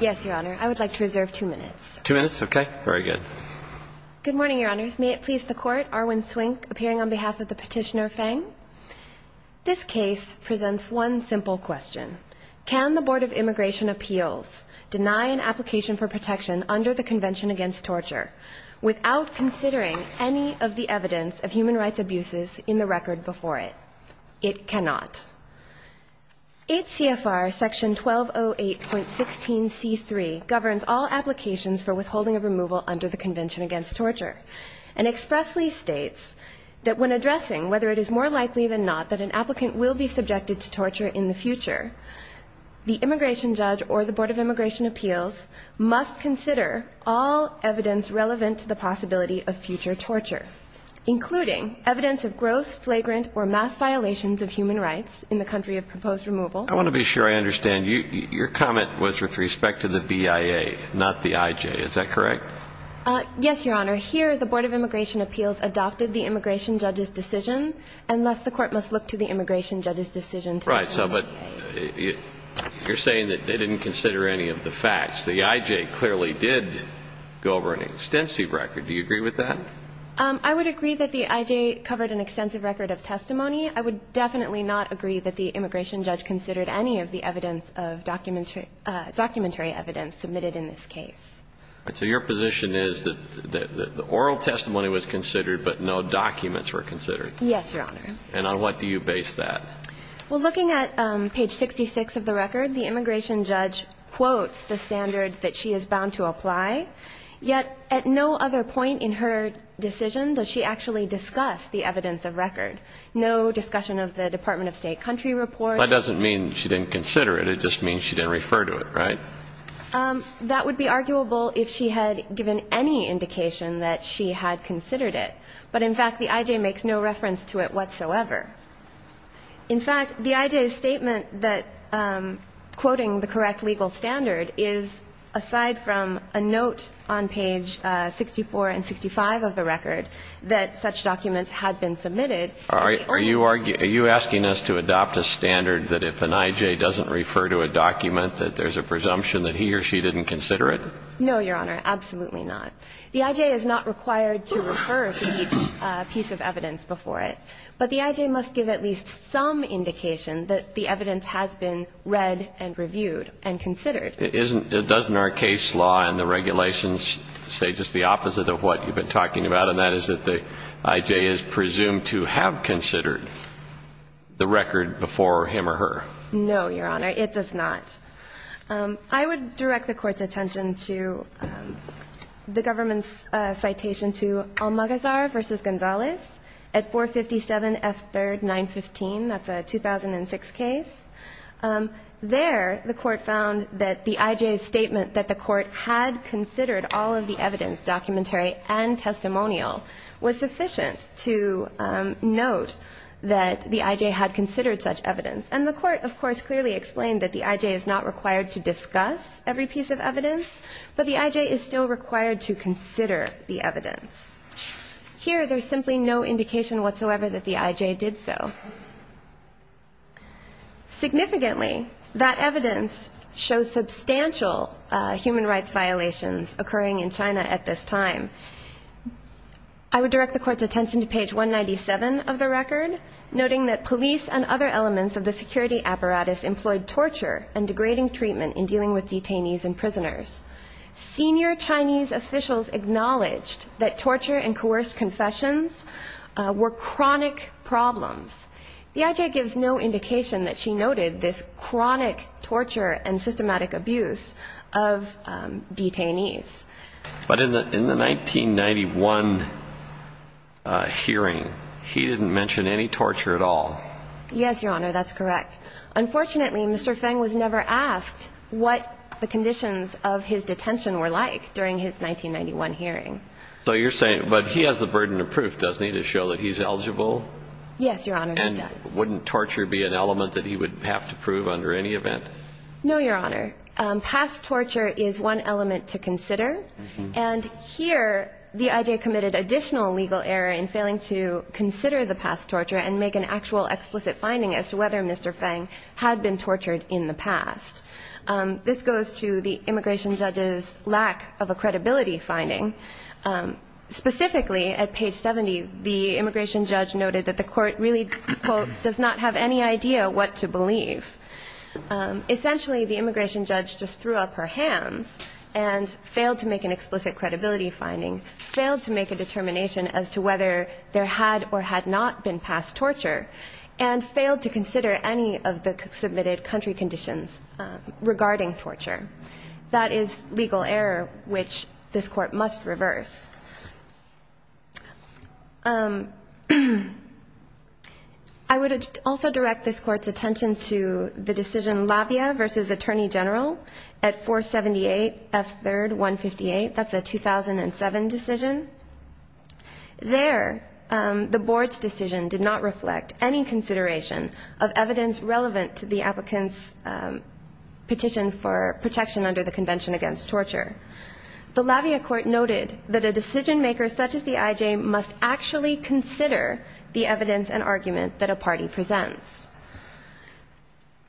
Yes, Your Honor. I would like to reserve two minutes. Two minutes? Okay. Very good. Good morning, Your Honors. May it please the Court, Arwin Swink appearing on behalf of the petitioner Feng. This case presents one simple question. Can the Board of Immigration Appeals deny an application for protection under the Convention Against Torture without considering any of the evidence of human rights abuses in the record before it? It cannot. 8 CFR Section 1208.16c3 governs all applications for withholding of removal under the Convention Against Torture and expressly states that when addressing whether it is more likely than not that an applicant will be subjected to torture in the future, the immigration judge or the Board of Immigration Appeals must consider all evidence relevant to the possibility of future torture, including evidence of gross, flagrant, or mass violations of human rights in the country of proposed removal. I want to be sure I understand. Your comment was with respect to the BIA, not the IJ. Is that correct? Yes, Your Honor. Here, the Board of Immigration Appeals adopted the immigration judge's decision, and thus the Court must look to the immigration judge's decision. Right. So but you're saying that they didn't consider any of the facts. The IJ clearly did go over an extensive record. Do you agree with that? I would agree that the IJ covered an extensive record of testimony. I would definitely not agree that the immigration judge considered any of the evidence of documentary evidence submitted in this case. So your position is that the oral testimony was considered but no documents were considered? Yes, Your Honor. And on what do you base that? Well, looking at page 66 of the record, the immigration judge quotes the standards that she is bound to apply, yet at no other point in her decision does she actually discuss the evidence of record. No discussion of the Department of State country report. That doesn't mean she didn't consider it. It just means she didn't refer to it, right? That would be arguable if she had given any indication that she had considered it. But in fact, the IJ makes no reference to it whatsoever. In fact, the IJ's statement that quoting the correct legal standard is aside from a note on page 64 and 65 of the record that such documents had been submitted. Are you asking us to adopt a standard that if an IJ doesn't refer to a document that there's a presumption that he or she didn't consider it? No, Your Honor. Absolutely not. The IJ is not required to refer to each piece of evidence before it. But the IJ must give at least some indication that the evidence has been read and reviewed and considered. Isn't – doesn't our case law and the regulations say just the opposite of what you've been talking about, and that is that the IJ is presumed to have considered the record before him or her? No, Your Honor. It does not. I would direct the Court's attention to the government's citation to Almagazar v. Gonzalez at 457 F3rd 915. That's a 2006 case. There, the Court found that the IJ's statement that the Court had considered all of the evidence, documentary and testimonial, was sufficient to note that the IJ had considered such evidence. And the Court, of course, clearly explained that the IJ is not required to discuss every piece of evidence, but the IJ is still required to consider the evidence. Here, there's simply no indication whatsoever that the IJ did so. Significantly, that evidence shows substantial human rights violations occurring in China at this time. I would direct the Court's attention to page 197 of the record, noting that police and other elements of the security apparatus employed torture and degrading treatment in dealing with detainees and prisoners. Senior Chinese officials acknowledged that torture and coerced confessions were chronic problems. The IJ gives no indication that she noted this chronic torture and systematic abuse of detainees. But in the 1991 hearing, he didn't mention any torture at all. Yes, Your Honor, that's correct. Unfortunately, Mr. Feng was never asked what the conditions of his detention were like during his 1991 hearing. So you're saying, but he has the burden of proof, doesn't he, to show that he's eligible? Yes, Your Honor, he does. And wouldn't torture be an element that he would have to prove under any event? No, Your Honor. Past torture is one element to consider. And here, the IJ committed additional legal error in failing to consider the past torture. tortured in the past, Mr. Feng, had been tortured in the past. This goes to the immigration judge's lack of a credibility finding. Specifically, at page 70, the immigration judge noted that the court really, quote, does not have any idea what to believe. Essentially, the immigration judge just threw up her hands and failed to make an assessment of the submitted country conditions regarding torture. That is legal error, which this Court must reverse. I would also direct this Court's attention to the decision Lafayette v. Attorney General at 478 F. 3rd 158. That's a 2007 decision. There, the Board's decision did not reflect any consideration of evidence relevant to the applicant's petition for protection under the Convention Against Torture. The Lafayette Court noted that a decision-maker such as the IJ must actually consider the evidence and argument that a party presents.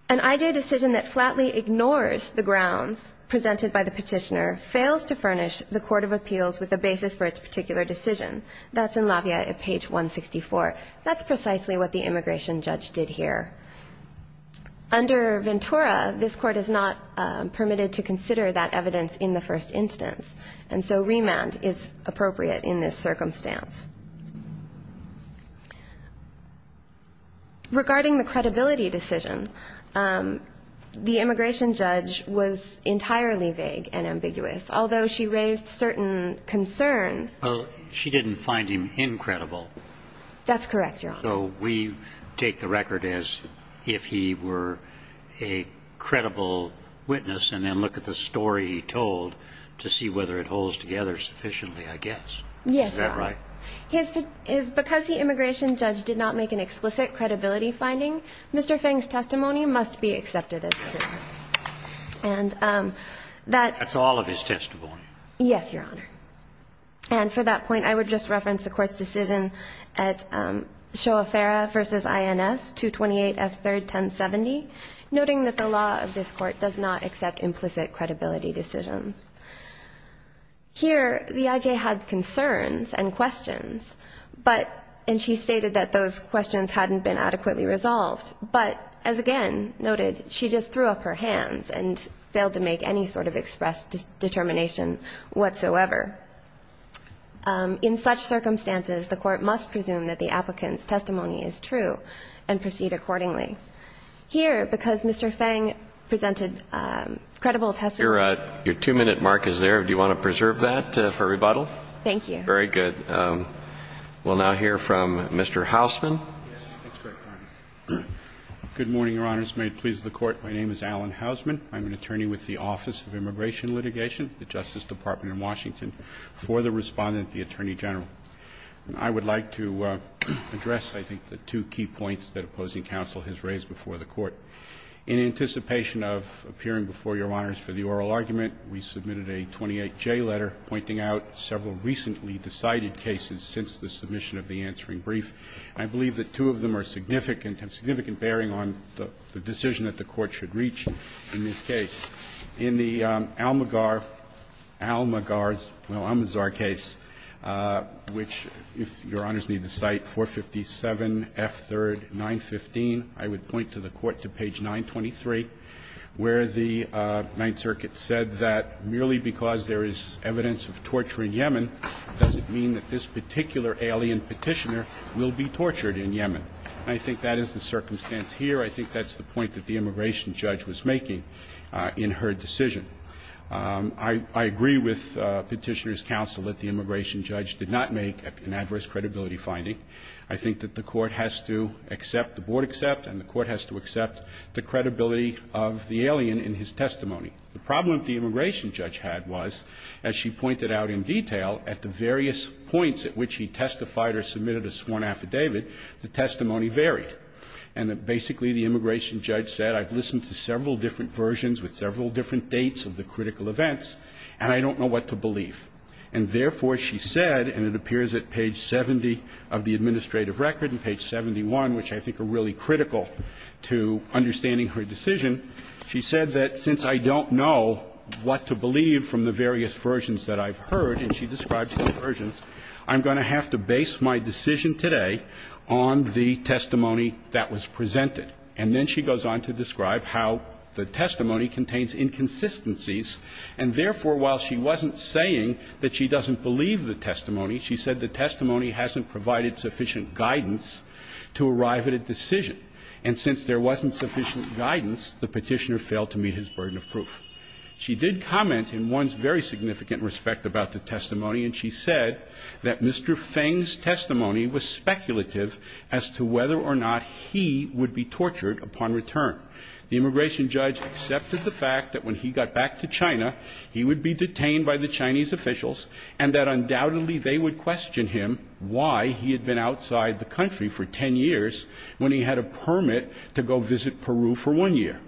An IJ decision that flatly ignores the grounds presented by the petitioner fails to furnish the Court of Appeals with a basis for its particular decision. That's in Lafayette at page 164. But that's precisely what the immigration judge did here. Under Ventura, this Court is not permitted to consider that evidence in the first instance, and so remand is appropriate in this circumstance. Regarding the credibility decision, the immigration judge was entirely vague and ambiguous, although she raised certain concerns. She didn't find him incredible. That's correct, Your Honor. So we take the record as if he were a credible witness and then look at the story he told to see whether it holds together sufficiently, I guess. Yes, Your Honor. Is that right? Because the immigration judge did not make an explicit credibility finding, Mr. Feng's testimony must be accepted as proven. And that's all of his testimony. Yes, Your Honor. And for that point, I would just reference the Court's decision at Shoa-Farah v. INS, 228F3-1070, noting that the law of this Court does not accept implicit credibility decisions. Here, the I.J. had concerns and questions, but – and she stated that those questions hadn't been adequately resolved. But, as again noted, she just threw up her hands and failed to make any sort of expressed determination whatsoever. In such circumstances, the Court must presume that the applicant's testimony is true and proceed accordingly. Here, because Mr. Feng presented credible testimony – Your two-minute mark is there. Do you want to preserve that for rebuttal? Thank you. Very good. We'll now hear from Mr. Hausman. Good morning, Your Honors. May it please the Court. My name is Alan Hausman. I'm an attorney with the Office of Immigration Litigation, the Justice Department in Washington, for the Respondent, the Attorney General. I would like to address, I think, the two key points that opposing counsel has raised before the Court. In anticipation of appearing before Your Honors for the oral argument, we submitted a 28J letter pointing out several recently decided cases since the submission of the answering brief. I believe that two of them are significant and have significant bearing on the decision that the Court should reach in this case. In the Almagar – Almagar's – well, Almanzar case, which, if Your Honors need to cite, 457 F. 3rd, 915, I would point to the Court to page 923, where the Ninth Circuit said that merely because there is evidence of torture in Yemen doesn't mean that this particular alien petitioner will be tortured in Yemen. I think that is the circumstance here. I think that's the point that the immigration judge was making in her decision. I agree with Petitioner's counsel that the immigration judge did not make an adverse credibility finding. I think that the Court has to accept, the Board accept, and the Court has to accept the credibility of the alien in his testimony. The problem the immigration judge had was, as she pointed out in detail, at the various points at which he testified or submitted a sworn affidavit, the testimony varied. And that basically the immigration judge said, I've listened to several different versions with several different dates of the critical events, and I don't know what to believe. And therefore, she said, and it appears at page 70 of the administrative record and page 71, which I think are really critical to understanding her decision, she said that since I don't know what to believe from the various versions that I've heard, and she describes the versions, I'm going to have to base my decision today on the testimony that was presented. And then she goes on to describe how the testimony contains inconsistencies, and therefore, while she wasn't saying that she doesn't believe the testimony, she said the testimony hasn't provided sufficient guidance to arrive at a decision. And since there wasn't sufficient guidance, the Petitioner failed to meet his burden of proof. She did comment in one's very significant respect about the testimony, and she said that Mr. Feng's testimony was speculative as to whether or not he would be tortured upon return. The immigration judge accepted the fact that when he got back to China, he would be detained by the Chinese officials, and that undoubtedly they would question him why he had been outside the country for ten years when he had a permit to go visit Peru for one year,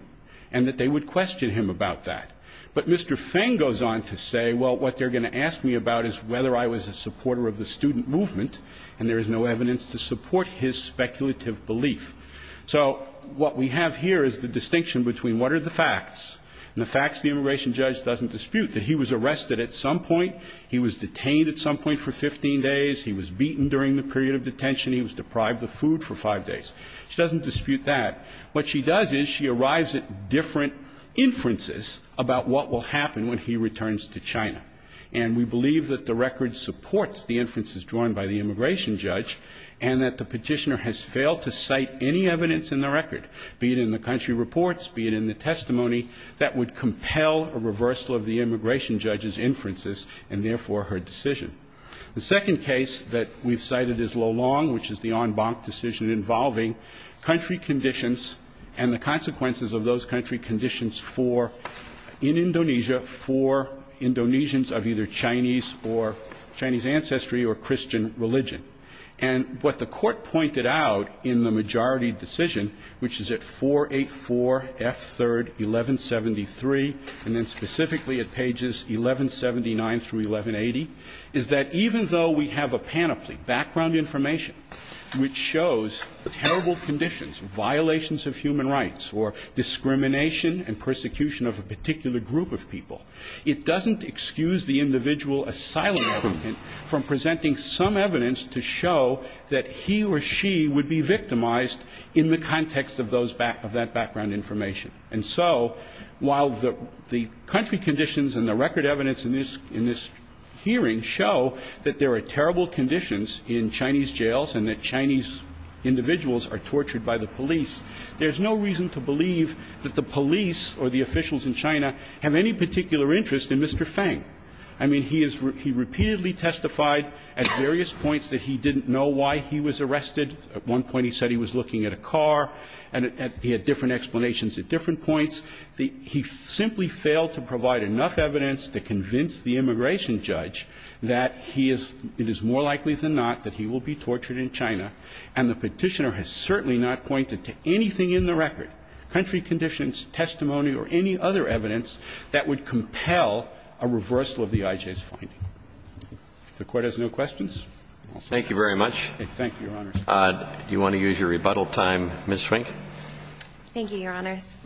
and that they would question him about that. But Mr. Feng goes on to say, well, what they're going to ask me about is whether I was a supporter of the student movement, and there is no evidence to support his speculative belief. So what we have here is the distinction between what are the facts, and the facts the immigration judge doesn't dispute, that he was arrested at some point, he was detained at some point for 15 days, he was beaten during the period of detention, he was deprived of food for five days. She doesn't dispute that. What she does is she arrives at different inferences about what will happen when he returns to China. And we believe that the record supports the inferences drawn by the immigration judge, and that the petitioner has failed to cite any evidence in the record, be it in the country reports, be it in the testimony, that would compel a reversal of the immigration judge's inferences, and therefore her decision. The second case that we've cited is Lolong, which is the en banc decision involving country conditions and the consequences of those country conditions for, in Indonesia, for Indonesians of either Chinese or Chinese ancestry or Christian religion. And what the Court pointed out in the majority decision, which is at 484 F3rd 1173, and then specifically at pages 1179 through 1180, is that even though we have a panoply, background information, which shows terrible conditions, violations of human rights or discrimination and persecution of a particular group of people, it doesn't excuse the individual asylum seeker from presenting some evidence to show that he or she would be victimized in the context of that background information. And so, while the country conditions and the record evidence in this hearing show that there are terrible conditions in Chinese jails, and that Chinese individuals are tortured by the police, there's no reason to believe that the police or the officials in China have any particular interest in Mr. Feng. I mean, he has repeatedly testified at various points that he didn't know why he was arrested. At one point he said he was looking at a car, and he had different explanations at different points. He simply failed to provide enough evidence to convince the immigration judge that he is – it is more likely than not that he will be tortured in China. And the Petitioner has certainly not pointed to anything in the record, country conditions, testimony or any other evidence that would compel a reversal of the IJ's finding. If the Court has no questions, I'll stop. Roberts. Thank you very much. Thank you, Your Honors. Do you want to use your rebuttal time, Ms. Swink? Thank you, Your Honors.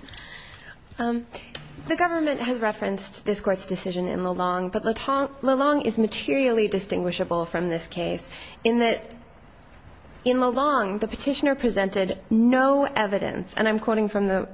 The government has referenced this Court's decision in Lelong, but Lelong is materially distinguishable from this case in that in Lelong the Petitioner presented no evidence – and I'm quoting from the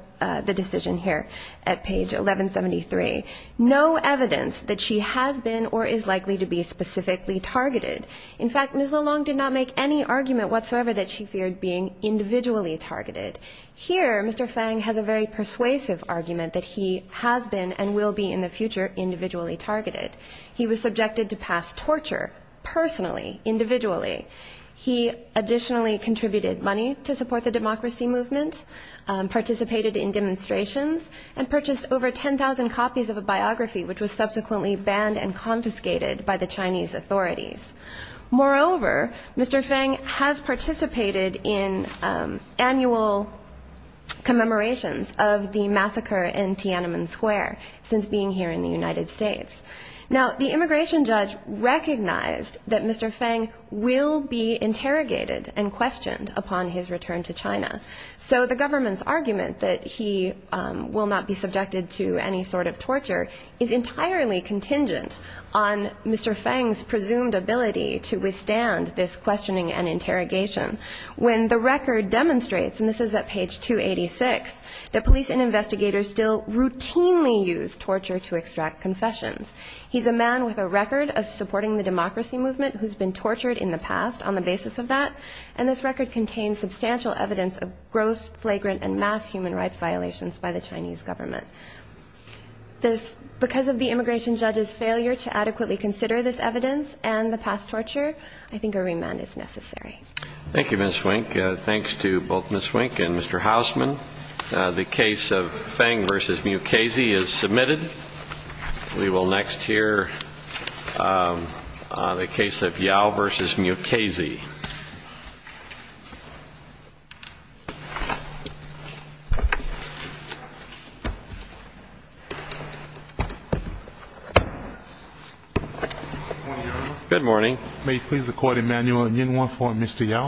decision here at page 1173 – no evidence that she has been or is likely to be specifically targeted. In fact, Ms. Lelong did not make any argument whatsoever that she feared being individually targeted. Here, Mr. Feng has a very persuasive argument that he has been and will be in the future individually targeted. He was subjected to past torture personally, individually. He additionally contributed money to support the democracy movement, participated in demonstrations, and purchased over 10,000 copies of a biography which was subsequently banned and confiscated by the Chinese authorities. Moreover, Mr. Feng has participated in annual commemorations of the massacre in Tiananmen Square since being here in the United States. Now, the immigration judge recognized that Mr. Feng will be interrogated and questioned upon his return to China. So the government's argument that he will not be subjected to any sort of torture is entirely contingent on Mr. Feng's presumed ability to withstand this questioning and interrogation when the record demonstrates – and this is at page 286 – that police and investigators still routinely use torture to extract confessions. He's a man with a record of supporting the democracy movement who's been tortured in the past on the basis of that, and this record contains substantial evidence of gross, flagrant, and mass human rights violations by the Chinese government. Because of the immigration judge's failure to adequately consider this evidence and the past torture, I think a remand is necessary. Thank you, Ms. Swink. And thanks to both Ms. Swink and Mr. Hausman. The case of Feng v. Mukasey is submitted. We will next hear the case of Yao v. Mukasey. Good morning. May it please the Court, Emmanuel Nguyen, 1-4, Mr. Yao.